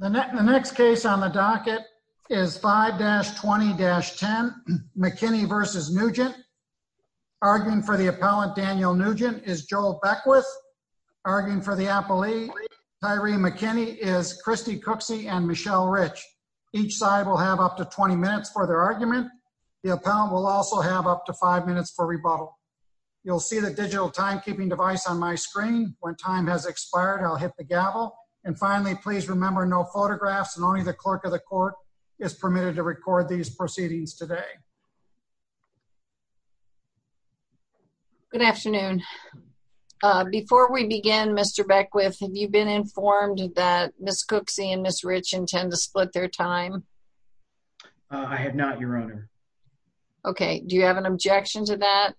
The next case on the docket is 5-20-10 McKinney v. Newgent. Arguing for the appellant, Daniel Nugent, is Joel Beckwith. Arguing for the appellee, Tyree McKinney, is Kristi Cooksey and Michelle Rich. Each side will have up to 20 minutes for their argument. The appellant will also have up to five minutes for rebuttal. You'll see the please remember no photographs and only the clerk of the court is permitted to record these proceedings today. Good afternoon. Before we begin, Mr. Beckwith, have you been informed that Ms. Cooksey and Ms. Rich intend to split their time? I have not, your honor. Okay, do you have an objection to that?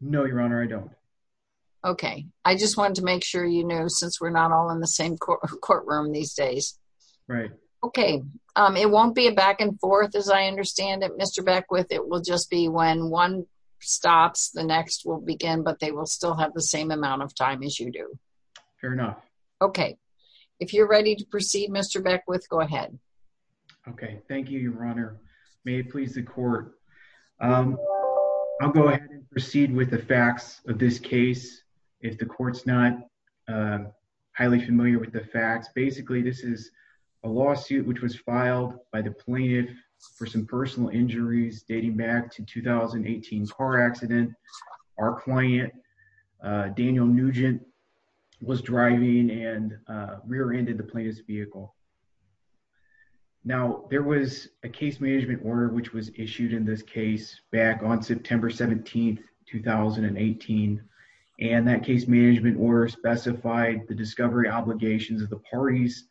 No, your honor, I don't. Okay, I just wanted to make sure you courtroom these days. Right. Okay, it won't be a back and forth as I understand it, Mr. Beckwith. It will just be when one stops, the next will begin, but they will still have the same amount of time as you do. Fair enough. Okay, if you're ready to proceed, Mr. Beckwith, go ahead. Okay, thank you, your honor. May it please the court. I'll go ahead and proceed with the facts of this case. If the court's not highly familiar with the facts, basically this is a lawsuit which was filed by the plaintiff for some personal injuries dating back to 2018 car accident. Our client, Daniel Nugent, was driving and rear-ended the plaintiff's vehicle. Now, there was a case management order which was issued in this case back on September 17th, 2018, and that case management order specified the discovery obligations of the parties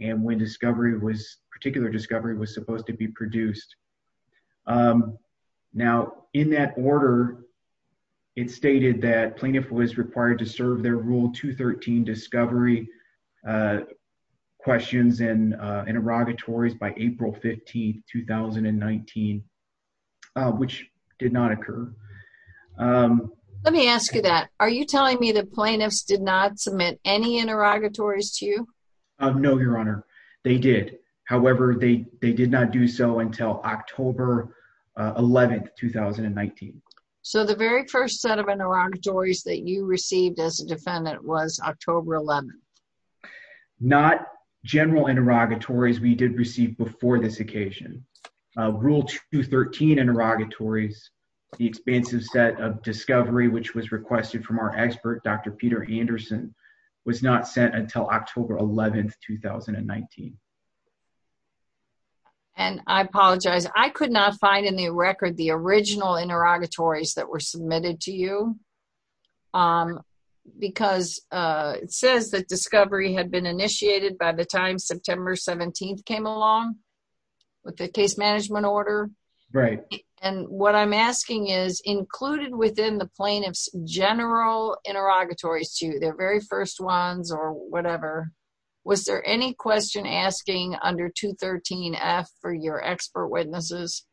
and when discovery was, particular discovery, was supposed to be produced. Now, in that order, it stated that plaintiff was required to serve their rule 213 discovery questions and interrogatories by April 15th, 2019, which did not occur. Let me ask you that. Are you telling me the plaintiffs did not submit any interrogatories to you? No, your honor. They did. However, they did not do so until October 11th, 2019. So, the very first set of interrogatories that you received as a defendant was October 11th? Not general interrogatories we did receive before this occasion. Rule 213 interrogatories, the expansive set of discovery which was requested from our expert, Dr. Peter Anderson, was not sent until October 11th, 2019. I apologize. I could not find in the record the original interrogatories that were submitted to you because it says that discovery had been initiated by the time September 17th came along with the case management order? Right. And what I'm asking is, included within the plaintiff's general interrogatories to you, their very first ones or whatever, was there any question asking under 213F for your expert witnesses?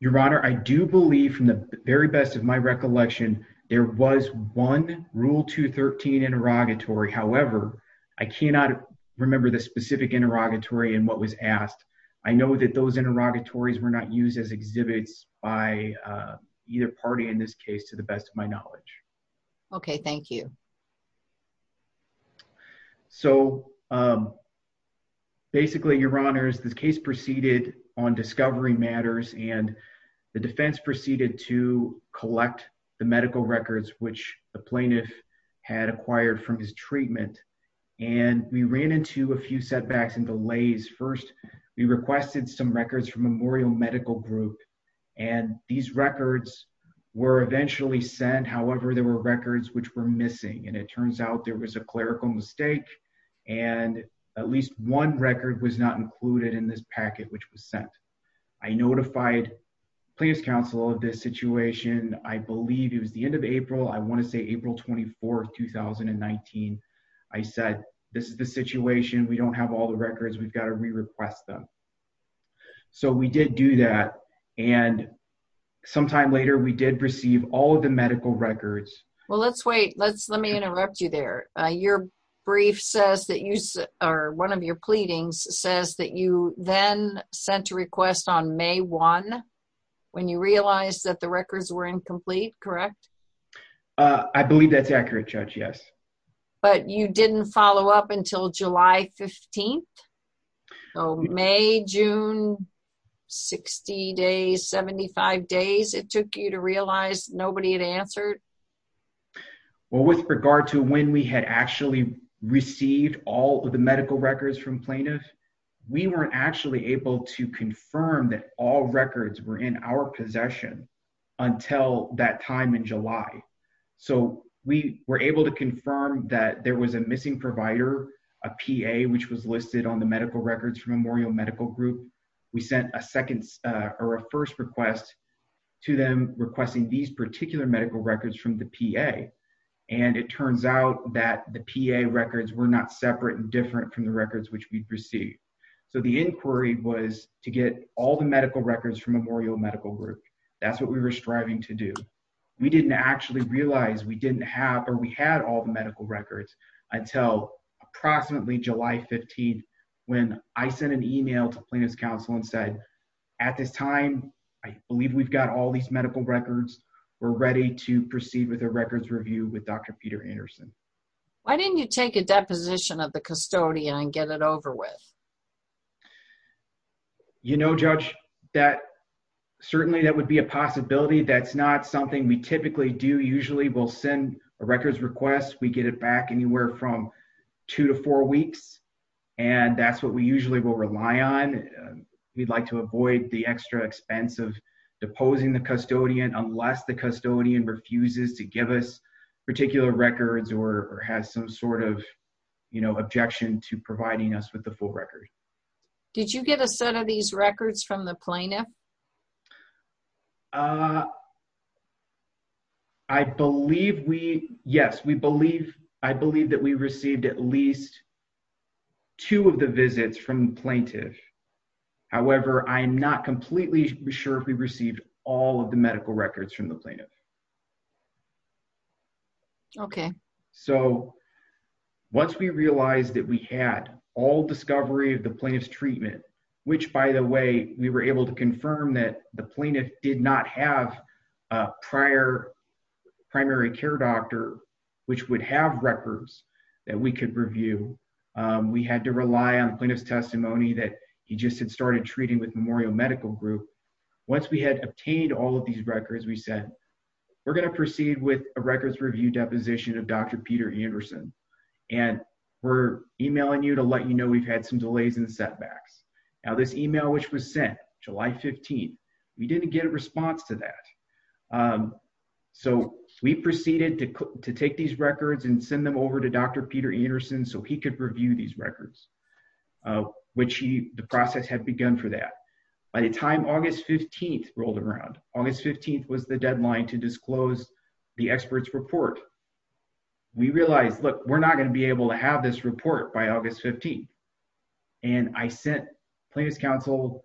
Your honor, I do believe from the very best of my recollection, there was one rule 213 interrogatory. However, I cannot remember the specific interrogatory and what was asked. I know that those interrogatories were not used as exhibits by either party in this case to the best of my knowledge. Okay. Thank you. So, basically, your honors, this case proceeded on discovery matters and the defense proceeded to collect the medical records which the plaintiff had acquired from his treatment. And we ran into a few setbacks and delays. First, we requested some records from Memorial Medical Group and these records were eventually sent. However, there were records which were missing and it turns out there was a clerical mistake and at least one record was not included in this packet which was sent. I notified plaintiff's of this situation. I believe it was the end of April. I want to say April 24, 2019. I said, this is the situation. We don't have all the records. We've got to re-request them. So, we did do that and sometime later, we did receive all of the medical records. Well, let's wait. Let's let me interrupt you there. Your brief says that you or one of your on May 1 when you realized that the records were incomplete, correct? I believe that's accurate, Judge. Yes. But you didn't follow up until July 15. So, May, June, 60 days, 75 days, it took you to realize nobody had answered? Well, with regard to when we had actually received all of the medical records from plaintiff, we weren't actually able to confirm that all records were in our possession until that time in July. So, we were able to confirm that there was a missing provider, a PA, which was listed on the medical records from Memorial Medical Group. We sent a second or a first request to them requesting these particular medical records from the PA and it turns out that the PA records were not separate and different from the records which we'd received. So, the inquiry was to get all the medical records from Memorial Medical Group. That's what we were striving to do. We didn't actually realize we didn't have or we had all the medical records until approximately July 15 when I sent an email to plaintiff's counsel and said, at this time, I believe we've got all these medical records. We're ready to proceed with a records review with Dr. Peter Anderson. Why didn't you take a deposition of the custodian and get it over with? You know, Judge, that certainly that would be a possibility. That's not something we typically do. Usually, we'll send a records request. We get it back anywhere from two to four weeks and that's what we usually will rely on. We'd like to avoid the extra expense of particular records or has some sort of, you know, objection to providing us with the full record. Did you get a set of these records from the plaintiff? I believe we, yes, we believe, I believe that we received at least two of the visits from plaintiff. However, I'm not completely sure if we received all of the medical records from the plaintiff. Okay. So, once we realized that we had all discovery of the plaintiff's treatment, which by the way, we were able to confirm that the plaintiff did not have a prior primary care doctor, which would have records that we could review. We had to rely on plaintiff's testimony that he just had started treating with Memorial Medical Group. Once we had obtained all these records, we said, we're going to proceed with a records review deposition of Dr. Peter Anderson and we're emailing you to let you know we've had some delays and setbacks. Now, this email, which was sent July 15th, we didn't get a response to that. So, we proceeded to take these records and send them over to Dr. Peter Anderson so he could review these records, which he, the process had begun for that. By the time August 15th rolled around, August 15th was the deadline to disclose the expert's report. We realized, look, we're not going to be able to have this report by August 15th. And I sent plaintiff's counsel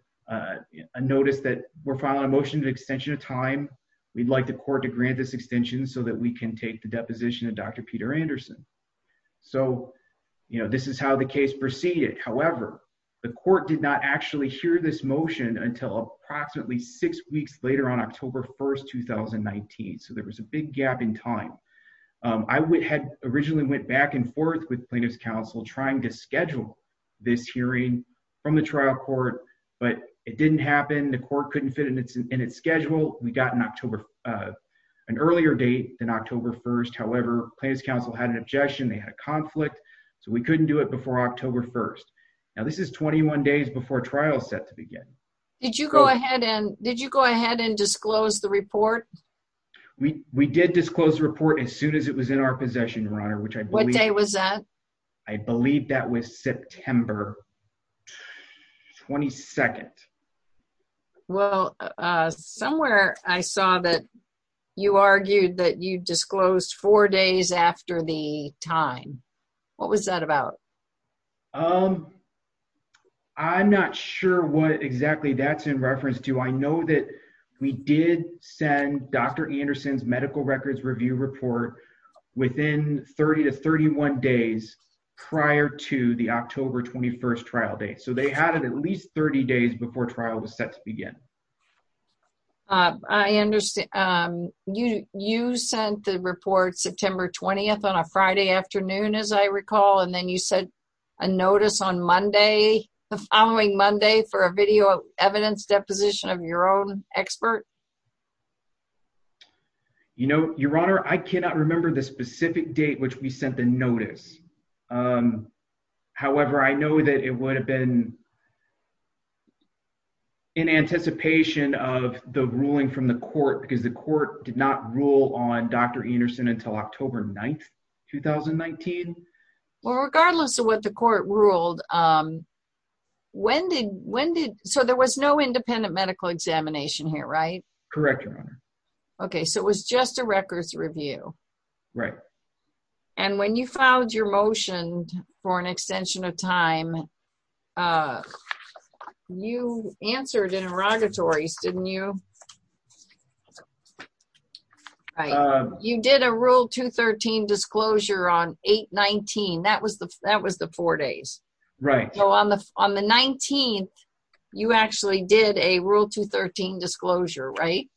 a notice that we're filing a motion to extension of time. We'd like the court to grant this extension so that we can take the this motion until approximately six weeks later on October 1st, 2019. So, there was a big gap in time. I had originally went back and forth with plaintiff's counsel trying to schedule this hearing from the trial court, but it didn't happen. The court couldn't fit in its schedule. We got an October, an earlier date than October 1st. However, plaintiff's counsel had an objection. They had a conflict. So, we couldn't do it before October 1st. Now, this is 21 days before trial is set to begin. Did you go ahead and disclose the report? We did disclose the report as soon as it was in our possession, Your Honor, which I believe... What day was that? I believe that was September 22nd. Well, somewhere I saw that you argued that you disclosed four days after the time. What was that about? I'm not sure what exactly that's in reference to. I know that we did send Dr. Anderson's medical records review report within 30 to 31 days prior to the October 21st trial date. So, they had it at least 30 days before trial was set to begin. I understand. You sent the report September 20th on a Friday afternoon, as I recall, and then you sent a notice on Monday, the following Monday, for a video evidence deposition of your own expert? You know, Your Honor, I cannot remember the specific date which we sent the notice. However, I know that it would have been in anticipation of the ruling from the court, because the court did not rule on Dr. Anderson until October 9th, 2019. Well, regardless of what the court ruled, when did... So, there was no independent medical examination here, right? Correct, Your Honor. Okay. So, it was just a records review. Right. And when you filed your motion for an extension of time, you answered interrogatories, didn't you? You did a Rule 213 disclosure on 8-19. That was the four days. Right. So, on the 19th, you actually did a Rule 213 disclosure, right?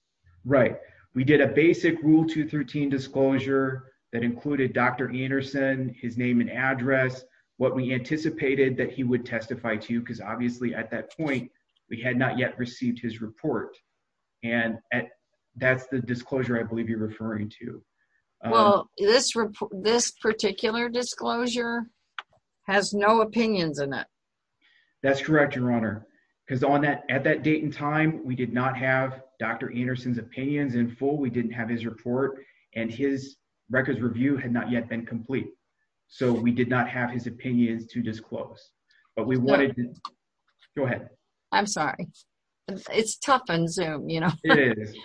Right. We did a basic Rule 213 disclosure that included Dr. Anderson, his name and address, what we anticipated that he would testify to, because obviously at that point, we had not yet received his report. And that's the disclosure I believe you're referring to. Well, this particular disclosure has no opinions in it. That's correct, Your Honor. Because at that date and time, we did not have Dr. Anderson's opinions in full, we didn't have his report, and his records review had not yet been complete. So, we did not have his opinions to disclose. But we wanted... Go ahead. I'm sorry. It's tough on Zoom, you know. It is.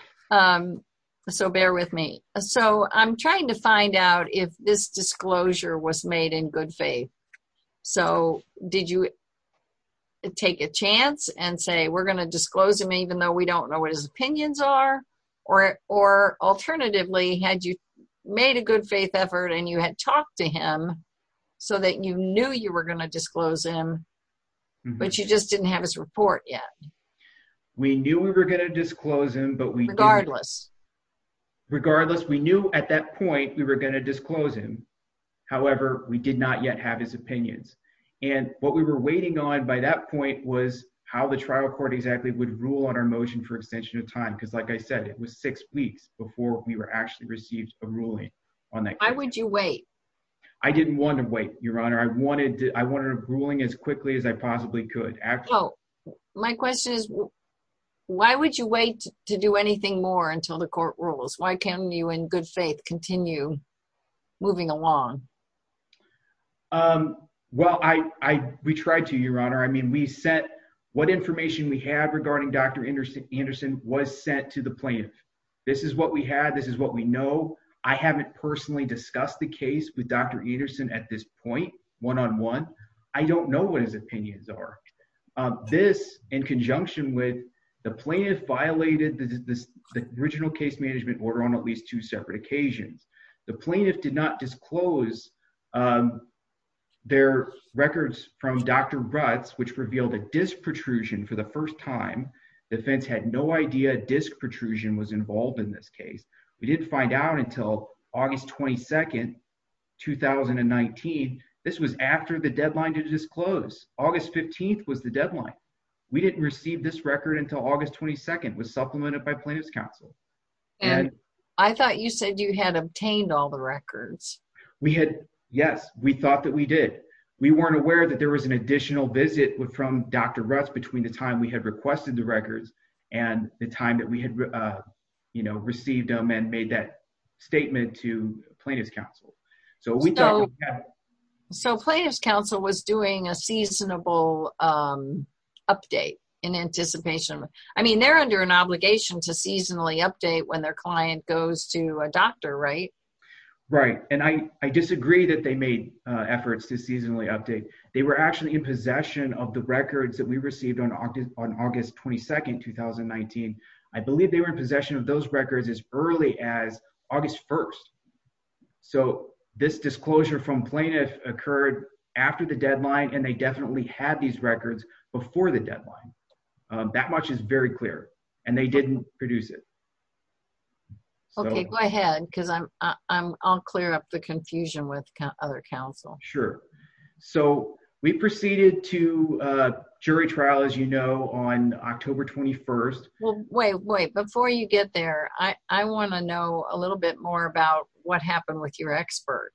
So, bear with me. So, I'm trying to find out if this disclosure was made in taking a chance and say, we're going to disclose him even though we don't know what his opinions are, or alternatively, had you made a good faith effort and you had talked to him so that you knew you were going to disclose him, but you just didn't have his report yet. We knew we were going to disclose him, but we... Regardless. Regardless, we knew at that point, we were going to disclose him. However, we did not yet have his opinions. And what we were waiting on by that point was how the trial court exactly would rule on our motion for extension of time. Because like I said, it was six weeks before we were actually received a ruling on that. Why would you wait? I didn't want to wait, Your Honor. I wanted a ruling as quickly as I possibly could. My question is, why would you wait to do anything more until the court rules? Why can't you, in good faith, continue moving along? Well, we tried to, Your Honor. I mean, we sent... What information we had regarding Dr. Anderson was sent to the plaintiff. This is what we had. This is what we know. I haven't personally discussed the case with Dr. Anderson at this point one-on-one. I don't know what his opinions are. This, in conjunction with the plaintiff violated the original case management order on at least two separate occasions. The plaintiff did not disclose their records from Dr. Rutz, which revealed a disc protrusion for the first time. The defense had no idea disc protrusion was involved in this case. We didn't find out until August 22nd, 2019. This was after the deadline to disclose. August 15th was the deadline. We didn't receive this record until August 22nd. It was supplemented by plaintiff's counsel. I thought you said you had obtained all the records. We had. Yes, we thought that we did. We weren't aware that there was an additional visit from Dr. Rutz between the time we had requested the records and the time that we had received them and made that statement to plaintiff's counsel. So we thought... So plaintiff's counsel was doing a seasonable update in anticipation. I mean they're under an obligation to seasonally update when their client goes to a doctor, right? Right, and I disagree that they made efforts to seasonally update. They were actually in possession of the records that we received on August 22nd, 2019. I believe they were in possession of those records as early as August 1st. So this disclosure from plaintiff occurred after the deadline and they definitely had these records before the deadline. That much is very clear and they didn't produce it. Okay, go ahead because I'll clear up the confusion with other counsel. Sure. So we proceeded to a jury trial, as you know, on October 21st. Well, wait, wait. Before you get there, I want to know a little bit more about what happened with your expert.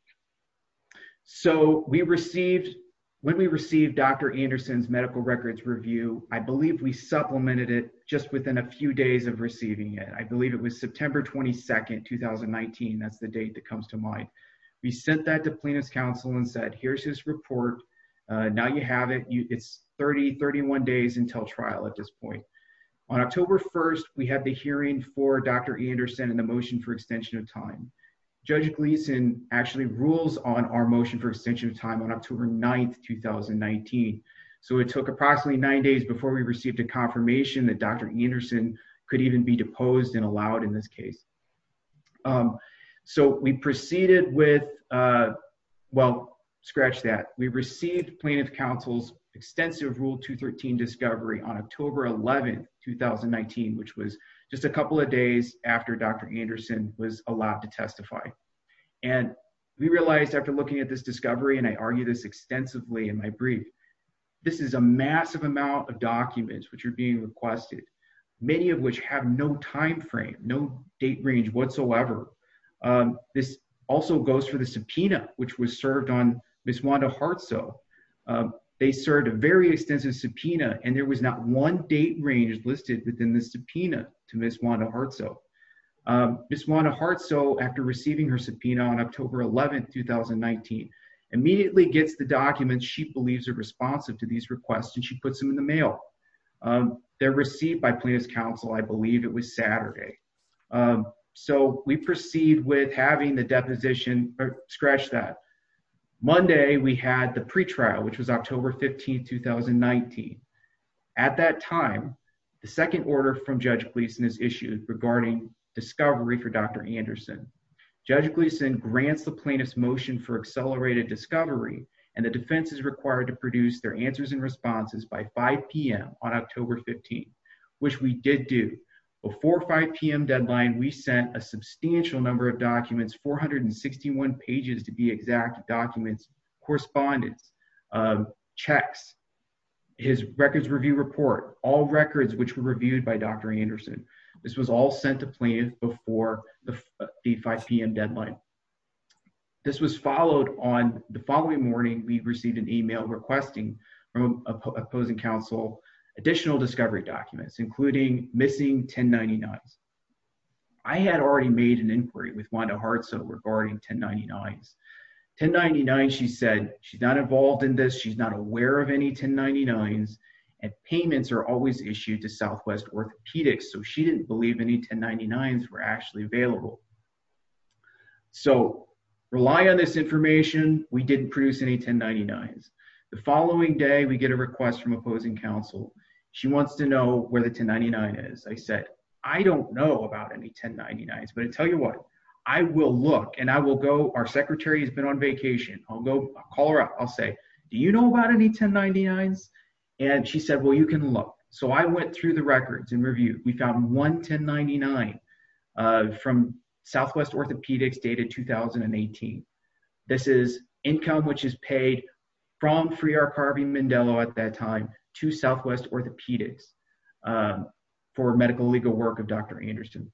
So we received... When we received Dr. Anderson's medical records review, I believe we supplemented it just within a few days of receiving it. I believe it was September 22nd, 2019. That's the date that comes to mind. We sent that to plaintiff's counsel and said, here's his report. Now you have it. It's 30, 31 days until trial at this point. On October 1st, we have the hearing for Dr. Anderson and the motion for extension of time. Judge Gleeson actually rules on our motion for extension of time on October 9th, 2019. So it took approximately nine days before we received a confirmation that Dr. Anderson could even be deposed and allowed in this case. So we proceeded with... Well, scratch that. We received plaintiff counsel's extensive Rule 213 discovery on October 11th, 2019, which was just a couple of days after Dr. Anderson was allowed to testify. And we realized after looking at this discovery, and I argue this extensively in my brief, this is a massive amount of documents which are being requested, many of which have no timeframe, no date range whatsoever. This also goes for the they served a very extensive subpoena and there was not one date range listed within the subpoena to Ms. Wanda Hartsoe. Ms. Wanda Hartsoe, after receiving her subpoena on October 11th, 2019, immediately gets the documents she believes are responsive to these requests and she puts them in the mail. They're received by plaintiff's counsel, I believe it was Saturday. So we proceed with having the deposition... Scratch that. Monday, we had the pretrial, which was October 15th, 2019. At that time, the second order from Judge Gleason is issued regarding discovery for Dr. Anderson. Judge Gleason grants the plaintiff's motion for accelerated discovery and the defense is required to produce their answers and responses by 5 p.m. on October 15th, which we did do. Before 5 p.m. we sent the plaintiff documents, 461 pages to be exact of documents, correspondence, checks, his records review report, all records which were reviewed by Dr. Anderson. This was all sent to plaintiff before the 5 p.m. deadline. This was followed on the following morning, we received an email requesting from opposing counsel additional discovery documents including missing 1099s. I had already made an inquiry with Wanda Hartso regarding 1099s. 1099, she said, she's not involved in this, she's not aware of any 1099s and payments are always issued to Southwest Orthopedics, so she didn't believe any 1099s were actually available. So rely on this information, we didn't produce any 1099s. The following day, we get a request from opposing counsel. She wants to know where the 1099 is. I said I don't know about any 1099s, but I'll tell you what, I will look and I will go, our secretary has been on vacation, I'll go call her up, I'll say, do you know about any 1099s? And she said, well you can look. So I went through the records and reviewed, we found one 1099 from Southwest Orthopedics dated 2018. This is income which is paid from Free Our Carving Mandela at that time to Southwest Orthopedics for medical legal work of Dr. Anderson.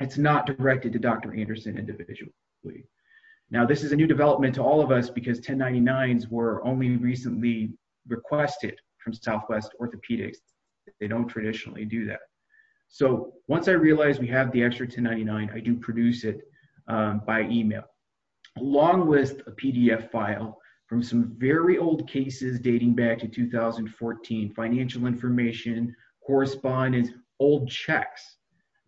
It's not directed to Dr. Anderson individually. Now this is a new development to all of us because 1099s were only recently requested from Southwest Orthopedics, they don't traditionally do that. So once I realized we have the extra 1099, I do produce it by email along with a PDF file from some very old cases dating back to 2014. Financial information, correspondence, old checks.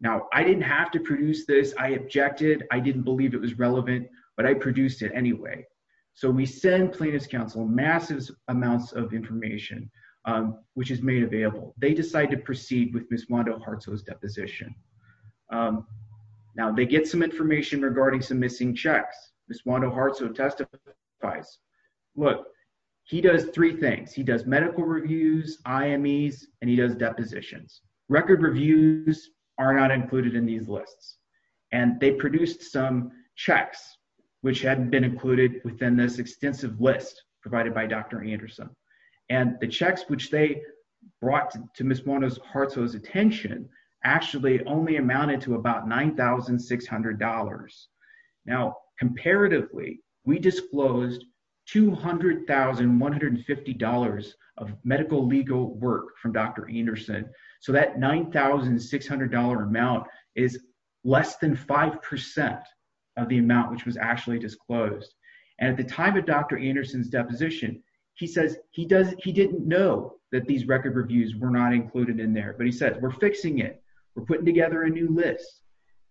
Now I didn't have to produce this, I objected, I didn't believe it was relevant, but I produced it anyway. So we send plaintiff's counsel massive amounts of information which is made available. They decide to proceed with Ms. Wando Hartso's deposition. Now they get some information regarding some missing checks. Ms. Wando Hartso testifies. Look, he does three things. He does medical reviews, IMEs, and he does depositions. Record reviews are not included in these lists. And they produced some checks which hadn't been included within this extensive list provided by Dr. Anderson. And the checks which they brought to Ms. Wando Hartso's attention actually only amounted to about $9,600. Now comparatively, we disclosed $200,150 of medical legal work from Dr. Anderson. So that $9,600 amount is less than 5% of the amount which was actually disclosed. And at the time of Dr. Anderson's deposition, he says he didn't know that these record reviews were not included in there. But he said, we're fixing it. We're putting together a new list.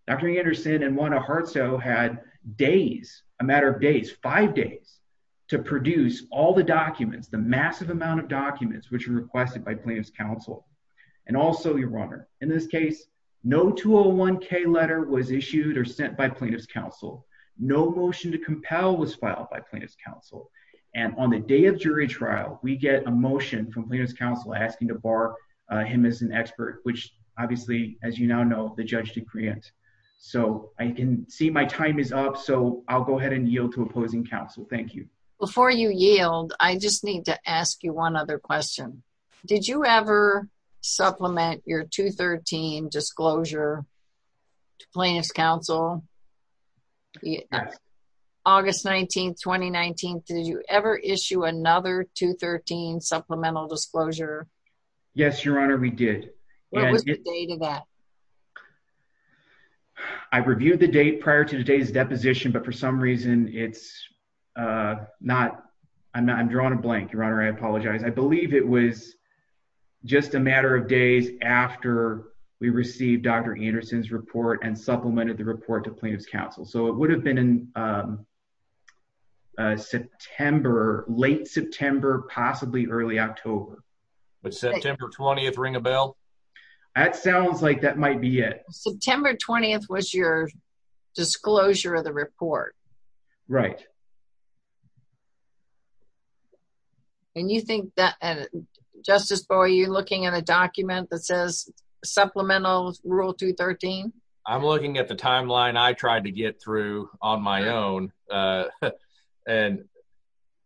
Dr. Anderson and Wanda Hartso had days, a matter of days, five days, to produce all the documents, the massive amount of documents which were requested by plaintiff's counsel, and also your runner. In this case, no 201K letter was issued or sent by plaintiff's counsel. No motion to compel was filed by plaintiff's counsel. And on the day of jury trial, we get a motion from plaintiff's expert, which obviously, as you now know, the judge decree it. So I can see my time is up. So I'll go ahead and yield to opposing counsel. Thank you. Before you yield, I just need to ask you one other question. Did you ever supplement your 213 disclosure to plaintiff's counsel? August 19, 2019, did you ever issue another 213 supplemental disclosure? Yes, your honor, we did. I've reviewed the date prior to today's deposition, but for some reason, it's not. I'm drawing a blank, your honor. I apologize. I believe it was just a matter of days after we received Dr. Anderson's report and supplemented the report to plaintiff's counsel. It would have been late September, possibly early October. But September 20th, ring a bell? That sounds like that might be it. September 20th was your disclosure of the report. Right. And you think that, Justice Boyd, you're looking at a document that says supplemental rule 213? I'm looking at the timeline I tried to get through on my own. And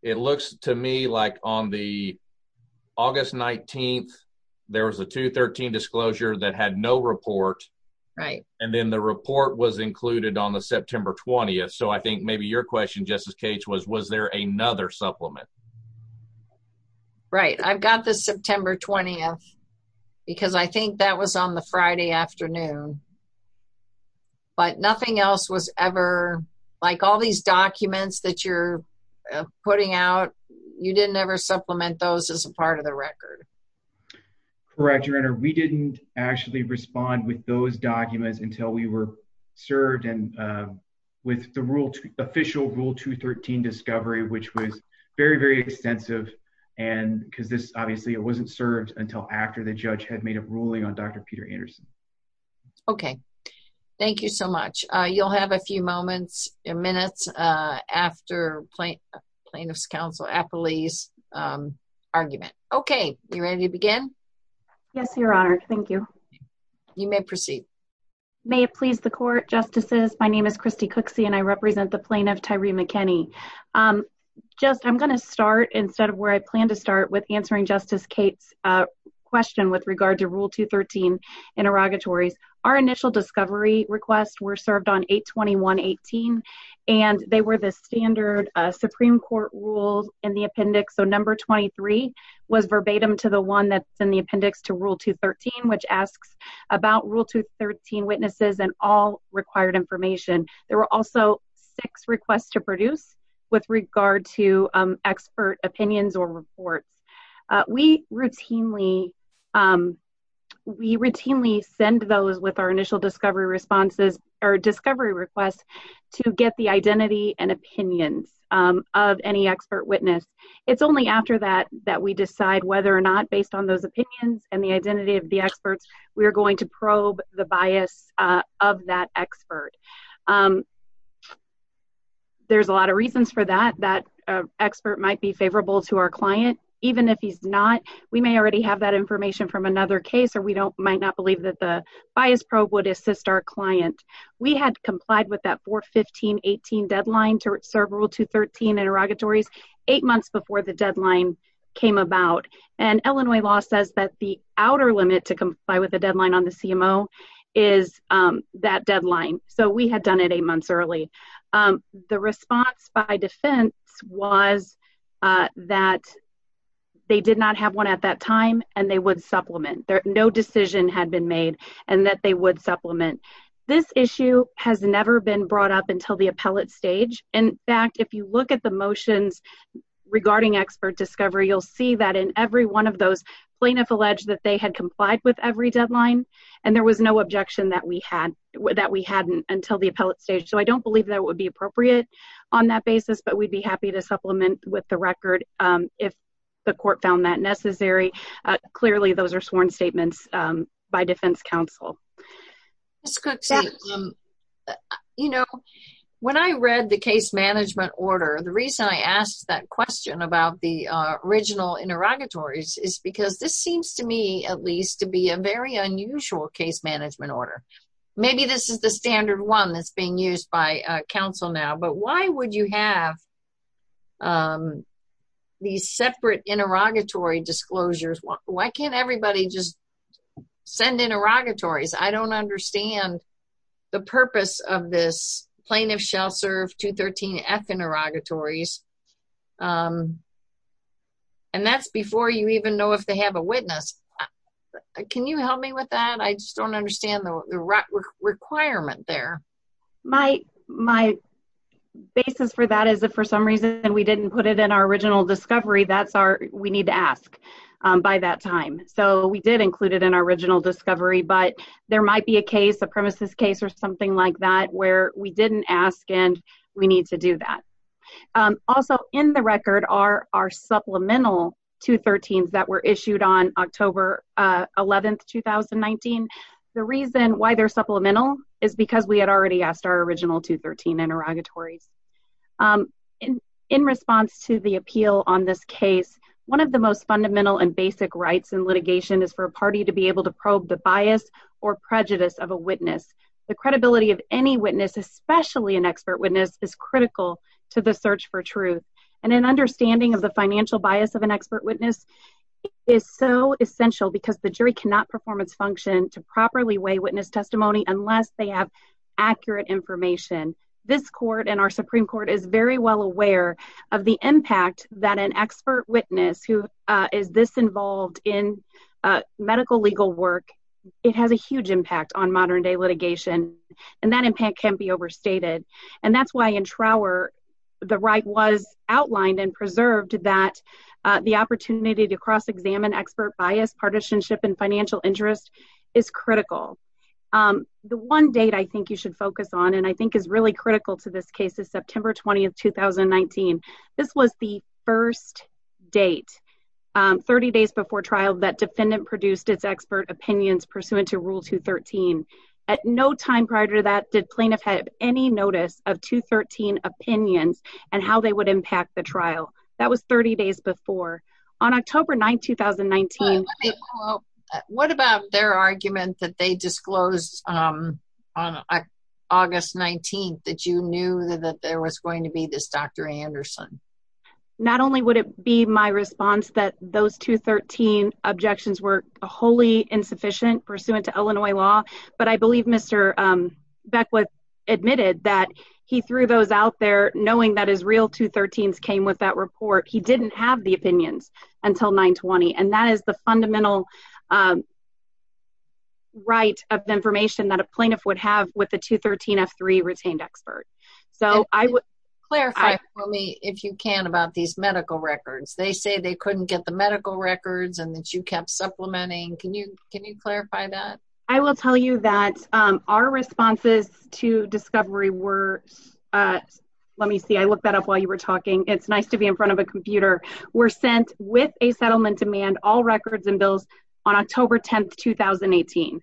it looks to me like on the August 19th, there was a 213 disclosure that had no report. Right. And then the report was included on the September 20th. So I think maybe your question, Justice Cates, was, was there another supplement? Right. I've got the September 20th because I think that was on the Friday afternoon. But nothing else was ever, like all these documents that you're putting out, you didn't ever supplement those as a part of the record? Correct, your honor. We didn't actually respond with those documents until we were served and with the official rule 213 discovery, which was very, very extensive. And because this obviously it wasn't served until after the judge had made a ruling on Dr. Peter Anderson. Okay. Thank you so much. You'll have a few moments and minutes after plaintiff's counsel Apolli's argument. Okay, you ready to begin? Yes, your honor. Thank you. You may proceed. May it please the court, Justices, my name is Kristi Cooksey and I represent the plaintiff, Tyree McKinney. Just I'm going to start instead of where I plan to start with answering Justice Cates question with regard to rule 213 interrogatories. Our initial discovery requests were served on 821-18 and they were the standard Supreme Court rules in the appendix. So number 23 was verbatim to the one that's in the appendix to rule 213, which asks about rule 213 witnesses and all required information. There were also six requests to produce with regard to expert opinions or reports. We routinely, we routinely send those with our initial discovery responses or discovery requests to get the identity and opinions of any expert witness. It's only after that, that we decide whether or not based on those opinions and the identity of the experts, we're going to probe the bias of that expert. There's a lot of reasons for that, that expert might be favorable to our client, even if he's not, we may already have that information from another case, or we don't might not believe that the bias probe would assist our client. We had complied with that 415-18 deadline to serve rule 213 interrogatories eight months before the deadline came about. And Illinois law says that the outer limit to comply with the deadline on the CMO is that deadline. So we had done it eight months early. The response by defense was that they did not have one at that time, and they would supplement. No decision had been made, and that they would supplement. This issue has never been brought up until the appellate stage. In fact, if you look at the motions regarding expert discovery, you'll see that in every one of those plaintiff alleged that they had complied with every deadline. And there was no objection that we had, that we hadn't until the appellate stage. So I don't believe that would be appropriate on that basis, but we'd be happy to supplement with the record if the court found that necessary. Clearly, those are sworn statements by defense counsel. Ms. Cooksey, you know, when I read the case management order, the reason I asked that question about the original interrogatories is because this seems to me, at least, to be a very unusual case management order. Maybe this is the standard one that's being used by counsel now, but why would you have these separate interrogatory disclosures? Why can't everybody just send interrogatories? I don't understand the purpose of this plaintiff shall serve 213-F interrogatories. And that's before you even know if they have a witness. Can you help me with that? I just don't understand the requirement there. My basis for that is if for some reason we didn't put it in our original discovery, we need to ask by that time. So we did include it in our original discovery, but there might be a case, a premises case or something like that, where we didn't ask and we need to do that. Also in the record are our supplemental 213s that were issued on October 11th, 2019. The reason why they're supplemental is because we had already asked our original 213 interrogatories. In response to the appeal on this case, one of the most fundamental and basic rights in litigation is for a party to be able to probe the bias or prejudice of a witness. The credibility of any witness, especially an expert witness is critical to the search for truth and an understanding of the financial bias of an expert witness is so essential because the jury cannot perform its function to properly weigh witness testimony unless they have accurate information. This court and our Supreme Court is very well aware of the impact that an expert and that impact can be overstated. And that's why in Trower, the right was outlined and preserved that the opportunity to cross-examine expert bias, partisanship and financial interest is critical. The one date I think you should focus on and I think is really critical to this case is September 20th, 2019. This was the first date, 30 days before trial that defendant produced its expert opinions pursuant to Rule 213. At no time prior to that did plaintiff have any notice of 213 opinions and how they would impact the trial. That was 30 days before. On October 9th, 2019. What about their argument that they disclosed on August 19th that you knew that there was going to be this Dr. Anderson? Not only would it be my response that those 213 objections were wholly insufficient pursuant to Illinois law, but I believe Mr. Beckwith admitted that he threw those out there knowing that his real 213s came with that report. He didn't have the opinions until 9-20 and that is the fundamental right of information that a plaintiff would have with the 213 F-3 retained expert. So I would clarify for me if you can about these medical records. They couldn't get the medical records and that you kept supplementing. Can you clarify that? I will tell you that our responses to discovery were, let me see, I looked that up while you were talking. It's nice to be in front of a computer. Were sent with a settlement demand all records and bills on October 10th, 2018.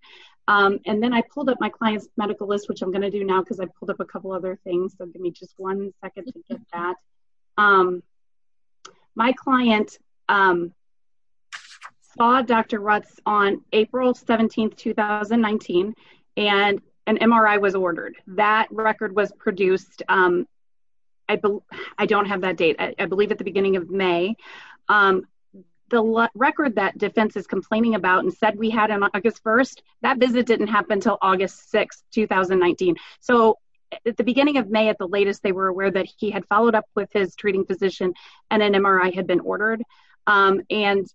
And then I pulled up my client's medical list, which I'm going to do now because I've pulled up a couple other things. So give me just one second. My client saw Dr. Rutz on April 17th, 2019, and an MRI was ordered. That record was produced. I don't have that date. I believe at the beginning of May. The record that defense is complaining about and said we had on August 1st, that visit didn't happen until August 6th, 2019. So at the beginning of May, at the latest, they were aware that he had followed up with his treating physician and an MRI had been ordered. And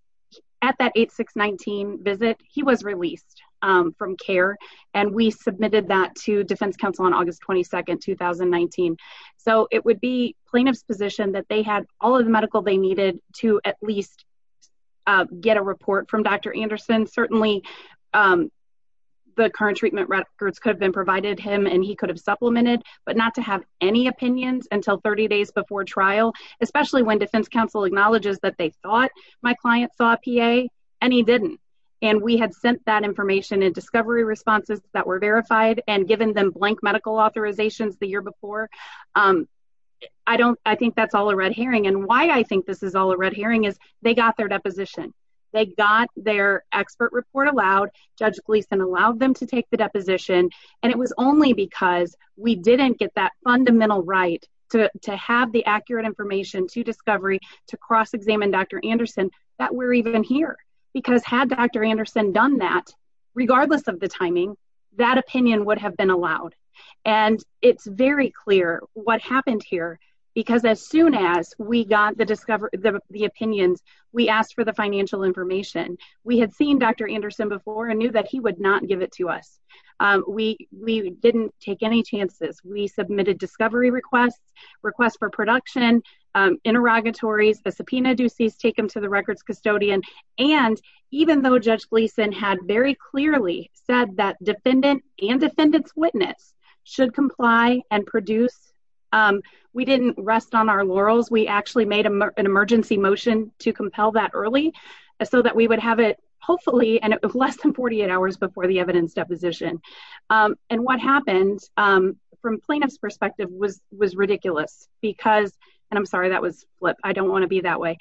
at that 8619 visit, he was released from care. And we submitted that to defense counsel on August 22nd, 2019. So it would be plaintiff's position that they had all of the medical they needed to at least get a report from Dr. Anderson. Certainly, the current treatment records could have been provided him and he could have supplemented, but not to have any opinions until 30 days before trial, especially when defense counsel acknowledges that they thought my client saw PA, and he didn't. And we had sent that information and discovery responses that were verified and given them blank medical authorizations the year before. I think that's all a red herring. And why I think this is all a red herring is they got their deposition, they got their expert report allowed, Judge Gleason allowed them to take the deposition. And it was only because we didn't get that fundamental right to have the accurate information to discovery to cross examine Dr. Anderson, that we're even here. Because had Dr. Anderson done that, regardless of the timing, that opinion would have been allowed. And it's very what happened here. Because as soon as we got the discovery, the opinions, we asked for the financial information. We had seen Dr. Anderson before and knew that he would not give it to us. We we didn't take any chances. We submitted discovery requests, request for production, interrogatories, the subpoena do cease, take them to the records custodian. And even though Judge Gleason had very clearly said that defendant and defendants witness should comply and produce um, we didn't rest on our laurels. We actually made an emergency motion to compel that early so that we would have it hopefully and less than 48 hours before the evidence deposition. And what happened from plaintiff's perspective was was ridiculous, because and I'm sorry, that was what I don't want to be that way.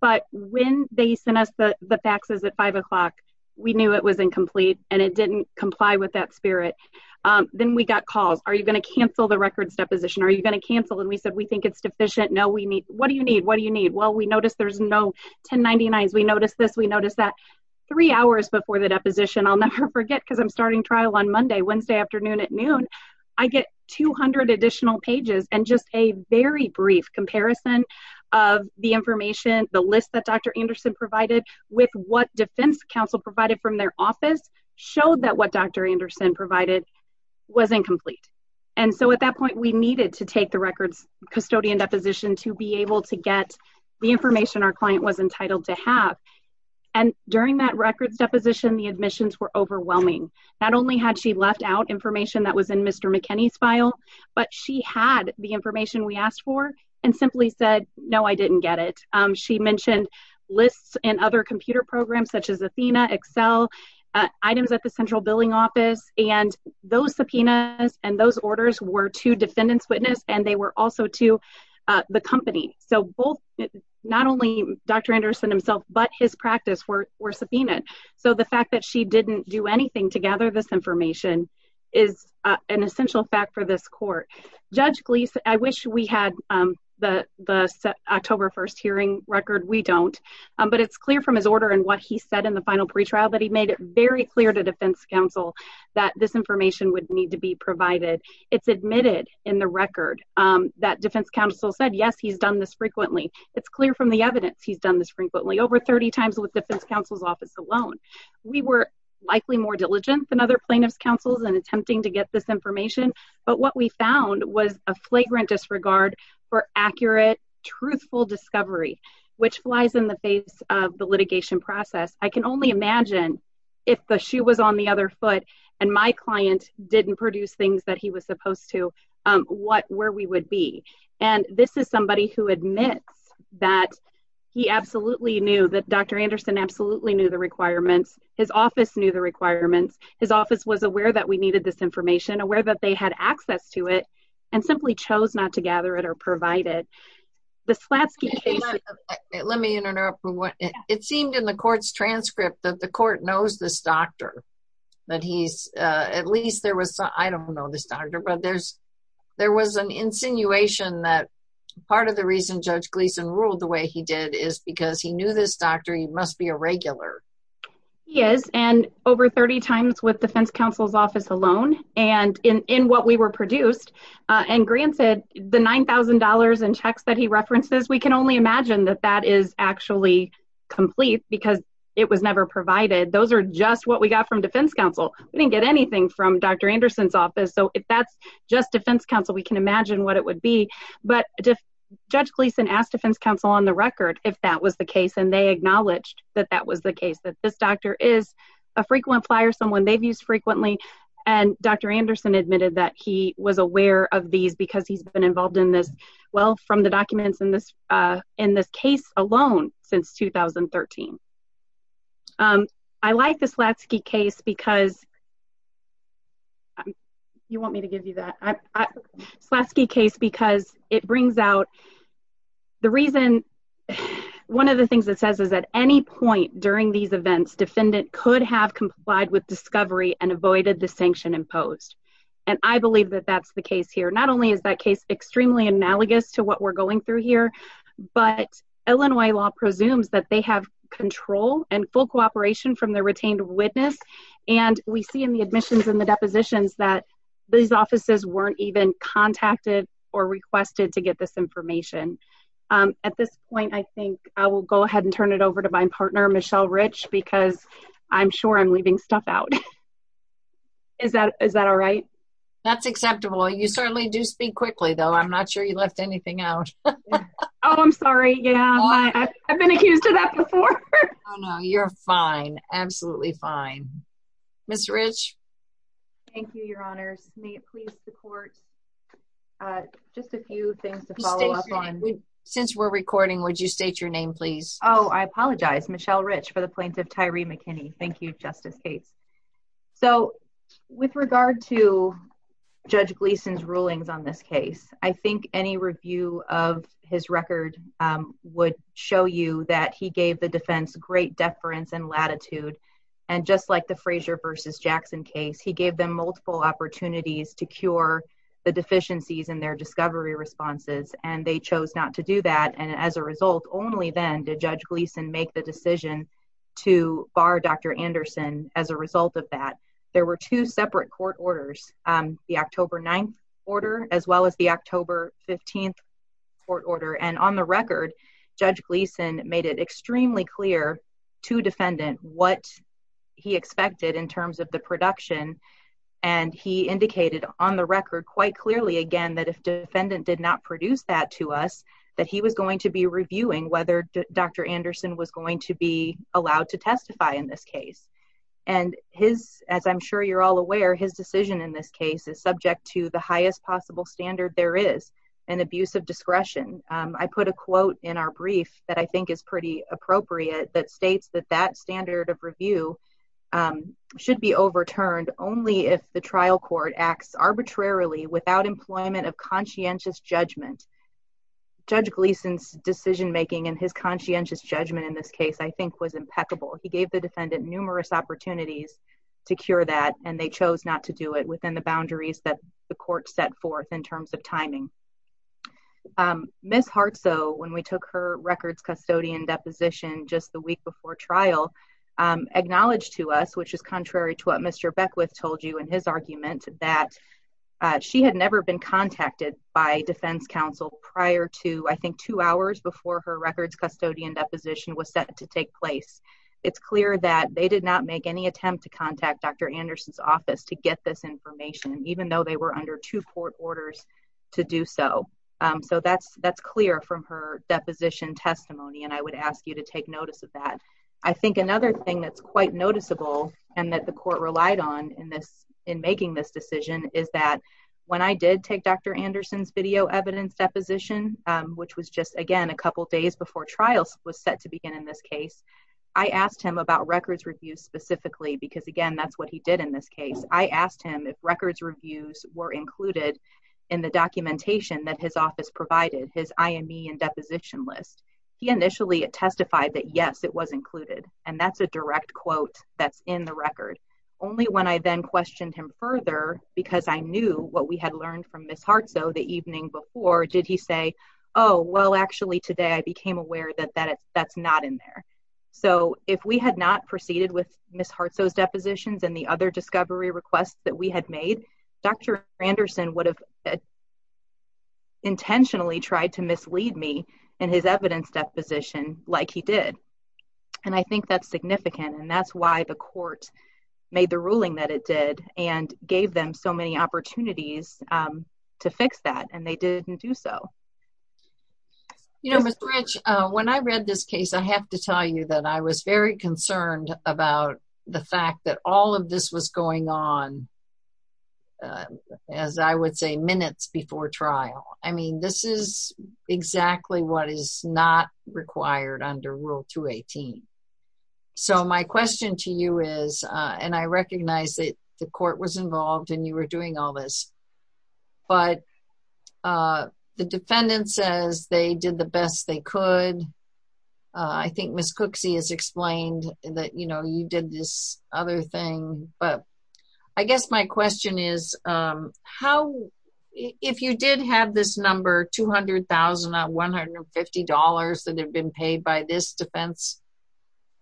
But when they sent us the faxes at five o'clock, we knew it was incomplete, and it didn't comply with that spirit. Then we got calls, are you going to cancel the records deposition? Are you going to cancel? And we said, we think it's deficient. No, we need what do you need? What do you need? Well, we noticed there's no 1099. As we noticed this, we noticed that three hours before the deposition, I'll never forget because I'm starting trial on Monday, Wednesday afternoon at noon, I get 200 additional pages. And just a very brief comparison of the information, the list that Dr. Anderson provided with what defense counsel provided from their office showed that what Dr. Anderson provided was incomplete. And so at that point, we needed to take the records custodian deposition to be able to get the information our client was entitled to have. And during that records deposition, the admissions were overwhelming. Not only had she left out information that was in Mr. McKinney's file, but she had the information we asked for and simply said, no, I didn't get it. She mentioned lists and other computer programs such as Athena, Excel, items at the central billing office. And those subpoenas and those orders were to defendants witness and they were also to the company. So both, not only Dr. Anderson himself, but his practice were subpoenaed. So the fact that she didn't do anything to gather this information is an essential fact for this court. Judge Gleeson, I wish we had the October 1st hearing record. We don't, but it's clear from his order and what he said in the final pretrial that he very clear to defense counsel that this information would need to be provided. It's admitted in the record that defense counsel said, yes, he's done this frequently. It's clear from the evidence he's done this frequently over 30 times with defense counsel's office alone. We were likely more diligent than other plaintiffs councils and attempting to get this information. But what we found was a flagrant disregard for accurate, truthful discovery, which flies in the face of the litigation process. I can only imagine if the shoe was on the other foot and my client didn't produce things that he was supposed to, what, where we would be. And this is somebody who admits that he absolutely knew that Dr. Anderson absolutely knew the requirements. His office knew the requirements. His office was aware that we needed this information, aware that they had access to it and simply chose not to gather it provided the slats. Let me interrupt. It seemed in the court's transcript that the court knows this doctor that he's at least there was, I don't know this doctor, but there's, there was an insinuation that part of the reason judge Gleason ruled the way he did is because he knew this doctor. He must be a regular. Yes. And over 30 times with defense counsel's office alone and in what we were produced and granted the $9,000 in checks that he references, we can only imagine that that is actually complete because it was never provided. Those are just what we got from defense counsel. We didn't get anything from Dr. Anderson's office. So if that's just defense counsel, we can imagine what it would be, but judge Gleason asked defense counsel on the record, if that was the case. And they acknowledged that that was the case that this doctor is a frequent flyer, someone they've used frequently. And Dr. Anderson admitted that he was aware of these because he's been involved in this well from the documents in this, uh, in this case alone since 2013. Um, I like the Slatsky case because you want me to give you that Slatsky case, because it brings out the reason. One of the things that says is at any point during these events, defendant could have complied with discovery and avoided the sanction imposed. And I believe that that's the case here. Not only is that case extremely analogous to what we're going through here, but Illinois law presumes that they have control and full cooperation from the retained witness. And we see in the admissions and the depositions that these offices weren't even contacted or requested to get this information. Um, at this point, I think I will go ahead and turn it over to my partner, Michelle Rich, because I'm sure I'm leaving stuff out. Is that, is that all right? That's acceptable. You certainly do speak quickly though. I'm not sure you left anything out. Oh, I'm sorry. Yeah. I've been accused of that before. Oh no, you're fine. Absolutely fine. Ms. Rich. Thank you, your honors. May it please the court, uh, just a few things to follow up on. Since we're recording, would you state your name please? Oh, I apologize. Michelle Rich for the plaintiff, Tyree McKinney. Thank you, Justice Cates. So with regard to judge Gleason's rulings on this case, I think any review of his record, um, would show you that he gave the defense great deference and latitude. And just like the Fraser versus Jackson case, he gave them multiple opportunities to cure the deficiencies in their discovery responses. And they chose not to do that. And as a result, only then did judge Gleason make the decision to bar Dr. Anderson. As a result of that, there were two separate court orders, um, the October 9th order, as well as the October 15th court order. And on the record, judge Gleason made it extremely clear to defendant what he expected in terms of the production. And he indicated on the record quite clearly, again, that if defendant did not produce that that he was going to be reviewing whether Dr. Anderson was going to be allowed to testify in this case. And his, as I'm sure you're all aware, his decision in this case is subject to the highest possible standard there is an abuse of discretion. Um, I put a quote in our brief that I think is pretty appropriate that states that that standard of review, um, should be overturned only if the trial court acts arbitrarily without employment of conscientious judgment. Judge Gleason's decision-making and his conscientious judgment in this case, I think was impeccable. He gave the defendant numerous opportunities to cure that and they chose not to do it within the boundaries that the court set forth in terms of timing. Ms. Hartsoe, when we took her records custodian deposition just the week before trial, um, acknowledged to us, which is contrary to what Mr. Beckwith told you in his argument that she had never been contacted by defense counsel prior to, I think, two hours before her records custodian deposition was set to take place. It's clear that they did not make any attempt to contact Dr. Anderson's office to get this information, even though they were under two court orders to do so. Um, so that's, that's clear from her deposition testimony. And I would ask you to take notice of that. I think another thing that's quite noticeable and that the court relied on in this, in making this decision is that when I did take Dr. Anderson's video evidence deposition, um, which was just, again, a couple of days before trials was set to begin in this case, I asked him about records reviews specifically, because again, that's what he did in this case. I asked him if records reviews were included in the documentation that his office provided, his IME and deposition list. He initially testified that yes, it was included. And that's a direct quote that's in the record. Only when I then questioned him further, because I knew what we had learned from Ms. Hartsoe the evening before, did he say, oh, well, actually today, I became aware that that that's not in there. So if we had not proceeded with Ms. Hartsoe's depositions and the other discovery requests that we had made, Dr. Anderson would have intentionally tried to mislead me in his evidence deposition like he did. And I think that's significant. And that's why the court made the ruling that it did and gave them so many opportunities to fix that and they didn't do so. You know, when I read this case, I have to tell you that I was very concerned about the fact that all of this was going on, as I would say, minutes before trial. I mean, this is exactly what is not required under Rule 218. So my question to you is, and I recognize that the court was involved and you were doing all this, but the defendant says they did the best they could. I think Ms. Cooksey has explained that, you did this other thing. But I guess my question is, if you did have this number, $200,150 that had been paid by this defense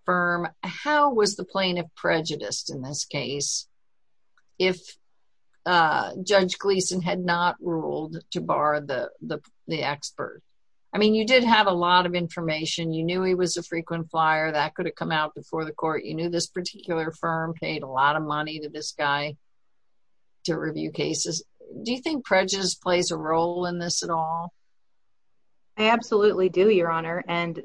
firm, how was the plaintiff prejudiced in this case if Judge Gleason had not ruled to bar the expert? I mean, you did have a lot of information. You was a frequent flyer that could have come out before the court. You knew this particular firm paid a lot of money to this guy to review cases. Do you think prejudice plays a role in this at all? I absolutely do, Your Honor. And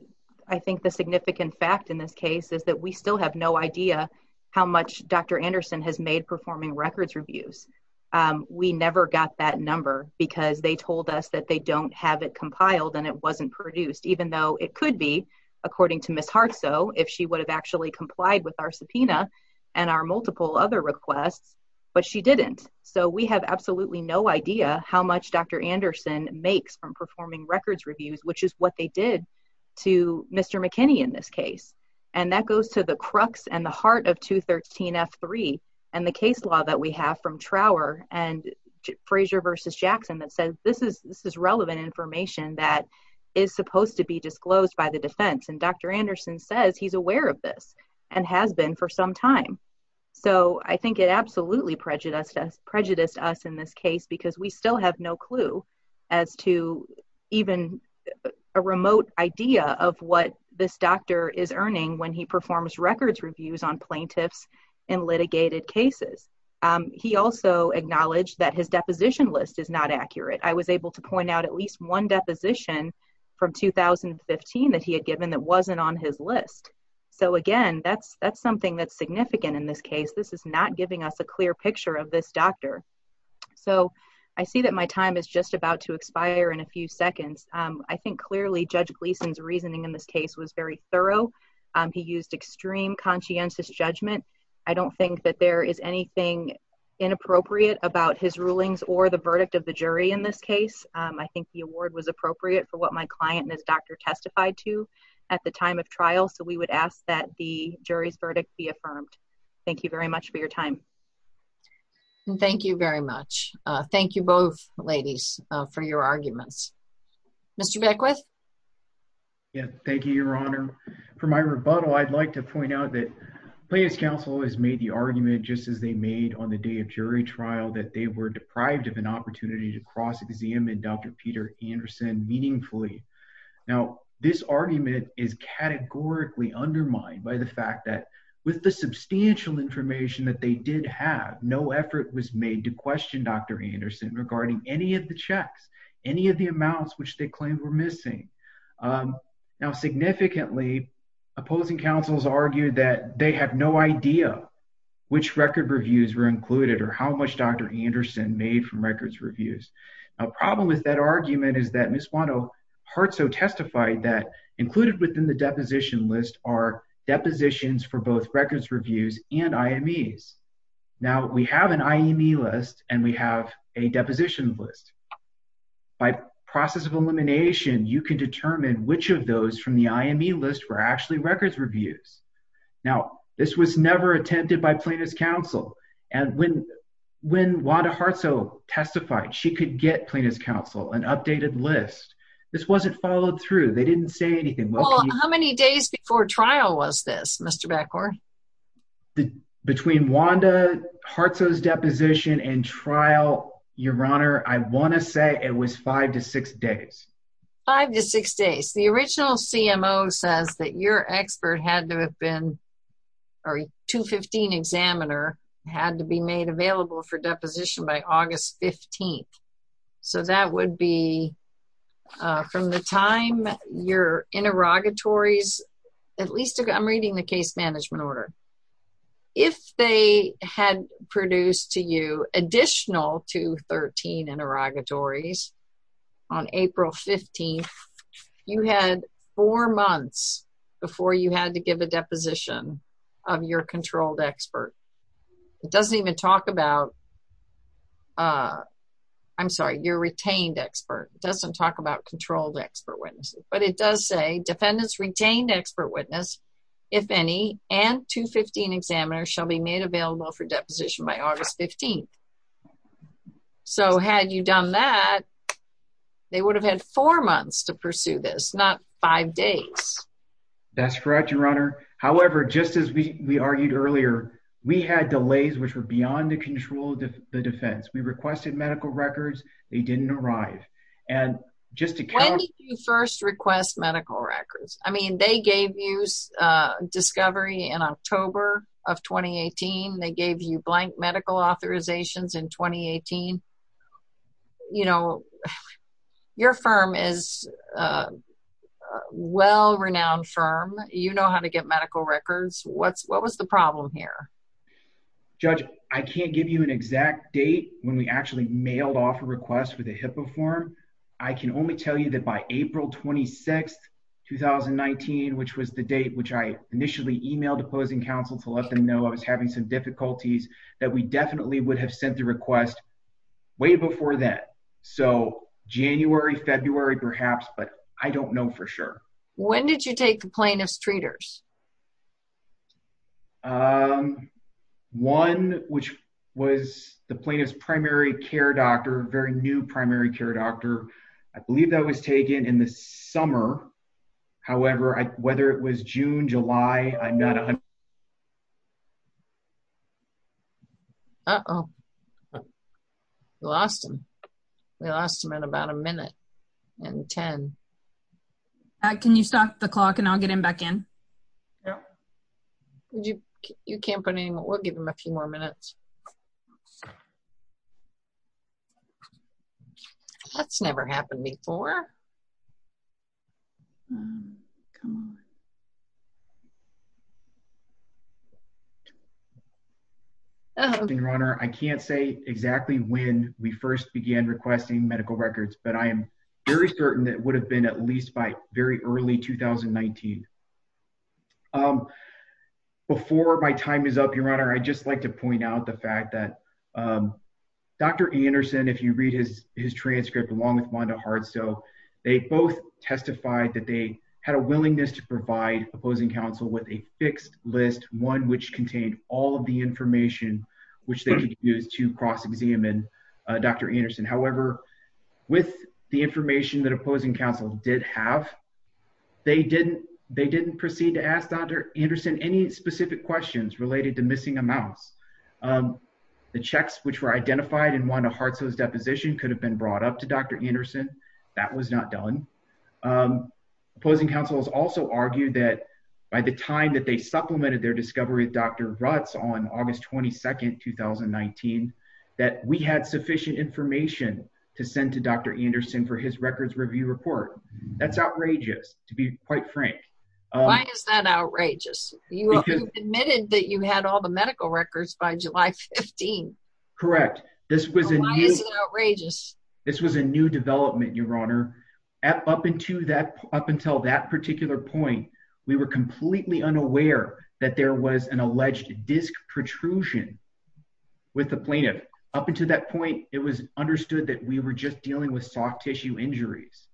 I think the significant fact in this case is that we still have no idea how much Dr. Anderson has made performing records reviews. We never got that number because they told us that they don't have it compiled and it wasn't produced, even though it could be, according to Ms. Hartsoe, if she would have actually complied with our subpoena and our multiple other requests, but she didn't. So we have absolutely no idea how much Dr. Anderson makes from performing records reviews, which is what they did to Mr. McKinney in this case. And that goes to the crux and the heart of 213F3 and the case law that we have from Trower and this is relevant information that is supposed to be disclosed by the defense. And Dr. Anderson says he's aware of this and has been for some time. So I think it absolutely prejudiced us in this case because we still have no clue as to even a remote idea of what this doctor is earning when he performs records reviews on plaintiffs in litigated cases. He also acknowledged that his at least one deposition from 2015 that he had given that wasn't on his list. So again, that's something that's significant in this case. This is not giving us a clear picture of this doctor. So I see that my time is just about to expire in a few seconds. I think clearly Judge Gleason's reasoning in this case was very thorough. He used extreme conscientious judgment. I don't think that is anything inappropriate about his rulings or the verdict of the jury in this case. I think the award was appropriate for what my client and his doctor testified to at the time of trial. So we would ask that the jury's verdict be affirmed. Thank you very much for your time. Thank you very much. Thank you both ladies for your arguments. Mr. Beckwith. Yeah, thank you, Your Honor. For my rebuttal, I'd like to point out that the plaintiff's counsel has made the argument, just as they made on the day of jury trial, that they were deprived of an opportunity to cross-examine Dr. Peter Anderson meaningfully. Now, this argument is categorically undermined by the fact that with the substantial information that they did have, no effort was made to question Dr. Anderson regarding any of the checks, any of the amounts which they claimed were missing. Now, significantly, opposing counsels that they have no idea which record reviews were included or how much Dr. Anderson made from records reviews. A problem with that argument is that Ms. Wanto-Herzo testified that included within the deposition list are depositions for both records reviews and IMEs. Now, we have an IME list and we have a deposition list. By process of elimination, you can determine which of those from the IME list were actually records reviews. Now, this was never attempted by plaintiff's counsel and when Wanto-Herzo testified, she could get plaintiff's counsel an updated list. This wasn't followed through. They didn't say anything. Well, how many days before trial was this, Mr. Bacor? Between Wanto-Herzo's deposition and trial, Your Honor, I want to say it was five to six days. Five to six days. The original CMO says that your expert had to have been or 215 examiner had to be made available for deposition by August 15th. That would be from the time your interrogatories, at least I'm reading the case management order. If they had produced to you additional 213 interrogatories on April 15th, you had four months before you had to give a deposition of your controlled expert. It doesn't even talk about, I'm sorry, your retained expert. It doesn't talk about controlled expert witnesses, but it does say defendants retained expert witness, if any, and 215 examiner shall be made available for deposition by August 15th. So, had you done that, they would have had four days to pursue this, not five days. That's correct, Your Honor. However, just as we argued earlier, we had delays which were beyond the control of the defense. We requested medical records. They didn't arrive. When did you first request medical records? I mean, they gave you discovery in October of 2018. They gave you blank medical authorizations in 2018. Your firm is a well-renowned firm. You know how to get medical records. What was the problem here? Judge, I can't give you an exact date when we actually mailed off a request with a HIPAA form. I can only tell you that by April 26th, 2019, which was the date which I initially emailed the closing counsel to let them know I was having some difficulties, that we definitely would have sent the request way before then. So, January, February, perhaps, but I don't know for sure. When did you take the plaintiff's treaters? One, which was the plaintiff's primary care doctor, very new primary care doctor. I believe that was taken in the summer. However, whether it was June, July, I'm not... Uh-oh. We lost him. We lost him in about a minute and 10. Can you stop the clock and I'll get him back in? Yeah. You can't put in... We'll give him a few more minutes. That's never happened before. Come on. Your Honor, I can't say exactly when we first began requesting medical records, but I am very certain that it would have been at least by very early 2019. Before my time is up, Your Honor, I'd just like to point out the fact that Dr. Anderson, if you read his transcript along with Wanda Hardstow, they both testified that they had a willingness to provide opposing counsel with a fixed list, one which contained all of the information which they could use to cross-examine Dr. Anderson. However, with the information that opposing counsel did have, they didn't proceed to ask Dr. Anderson any specific questions related to missing amounts. The checks which were identified in Wanda Hardstow's deposition could have been brought up to Dr. Anderson. That was not done. Opposing counsel has also argued that by the time that they supplemented their discovery with Dr. Rutz on August 22, 2019, that we had sufficient information to send to Dr. Anderson for his records review report. That's outrageous, to be quite frank. Why is that outrageous? You admitted that you had all the medical records by July 15. Correct. This was a new development, Your Honor. Up until that particular point, we were completely unaware that there was an alleged disc protrusion with the plaintiff. Up until that point, it was understood that we were just dealing with soft tissue injuries.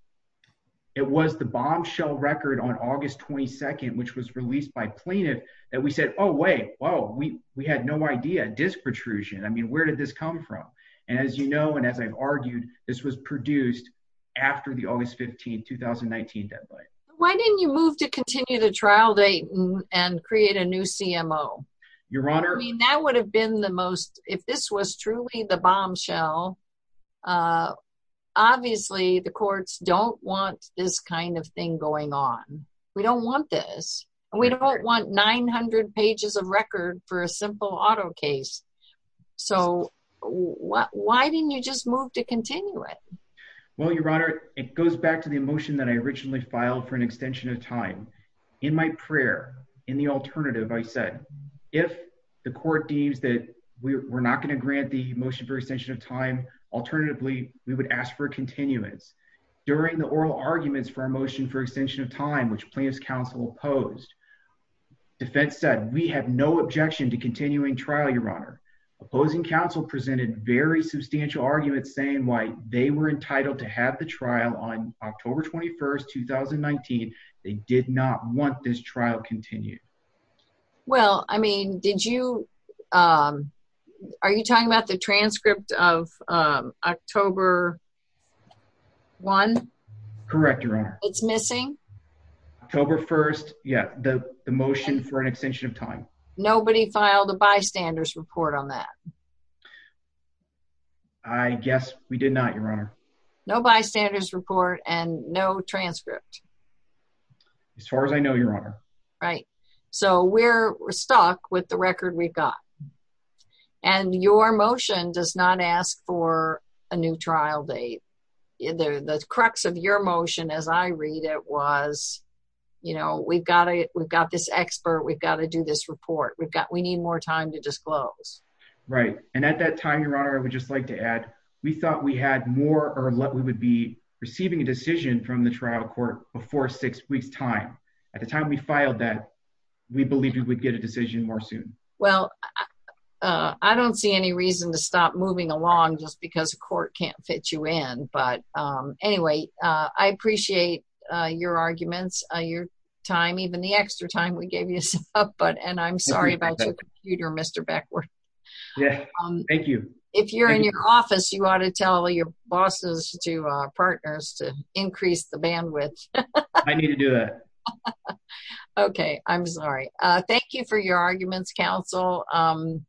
It was the bombshell record on August 22, which was released by plaintiff, that we said, oh wait, whoa, we had no idea, disc protrusion. I mean, where did this come from? As you know, and as I've argued, this was produced after the August 15, 2019 deadline. Why didn't you move to continue the trial date and create a new CMO? Your Honor- I mean, that would have been the most, if this was truly the bombshell, uh, obviously the courts don't want this kind of thing going on. We don't want this. We don't want 900 pages of record for a simple auto case. So why didn't you just move to continue it? Well, Your Honor, it goes back to the motion that I originally filed for an extension of time. In my prayer, in the alternative, I said, if the court deems that we're not going to grant the motion for extension of time, alternatively, we would ask for continuance. During the oral arguments for a motion for extension of time, which plaintiff's counsel opposed, defense said, we have no objection to continuing trial, Your Honor. Opposing counsel presented very substantial arguments saying why they were entitled to have the trial on October 21st, 2019. They did not want this trial continued. Well, I mean, did you, um, are you talking about the transcript of, um, October 1? Correct, Your Honor. It's missing? October 1st, yeah, the motion for an extension of time. Nobody filed a bystander's report on that? I guess we did not, Your Honor. No bystander's report and no transcript? As far as I know, Your Honor. Right. So we're stuck with the record we've got. And your motion does not ask for a new trial date. The crux of your motion, as I read it, was, you know, we've got to, we've got this expert, we've got to do this report. We've got, we need more time to disclose. Right. And at that time, Your Honor, I would just like to add, we thought we had more or what we would be receiving a decision from the trial court before six weeks time. At the time we filed that, we believed we would get a decision more soon. Well, uh, I don't see any reason to stop moving along just because the court can't fit you in. But, um, anyway, uh, I appreciate, uh, your arguments, uh, your time, even the extra time we gave you, but, and I'm sorry about your computer, Mr. Beckwith. Yeah, thank you. If you're in your office, you ought to tell your bosses to, uh, partners to increase the bandwidth. I need to do that. Okay. I'm sorry. Uh, thank you for your arguments, counsel. Um,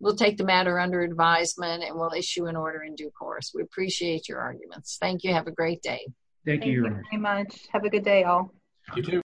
we'll take the matter under advisement and we'll issue an order in due course. We appreciate your arguments. Thank you. Have a great day. Thank you very much. Have a good day all.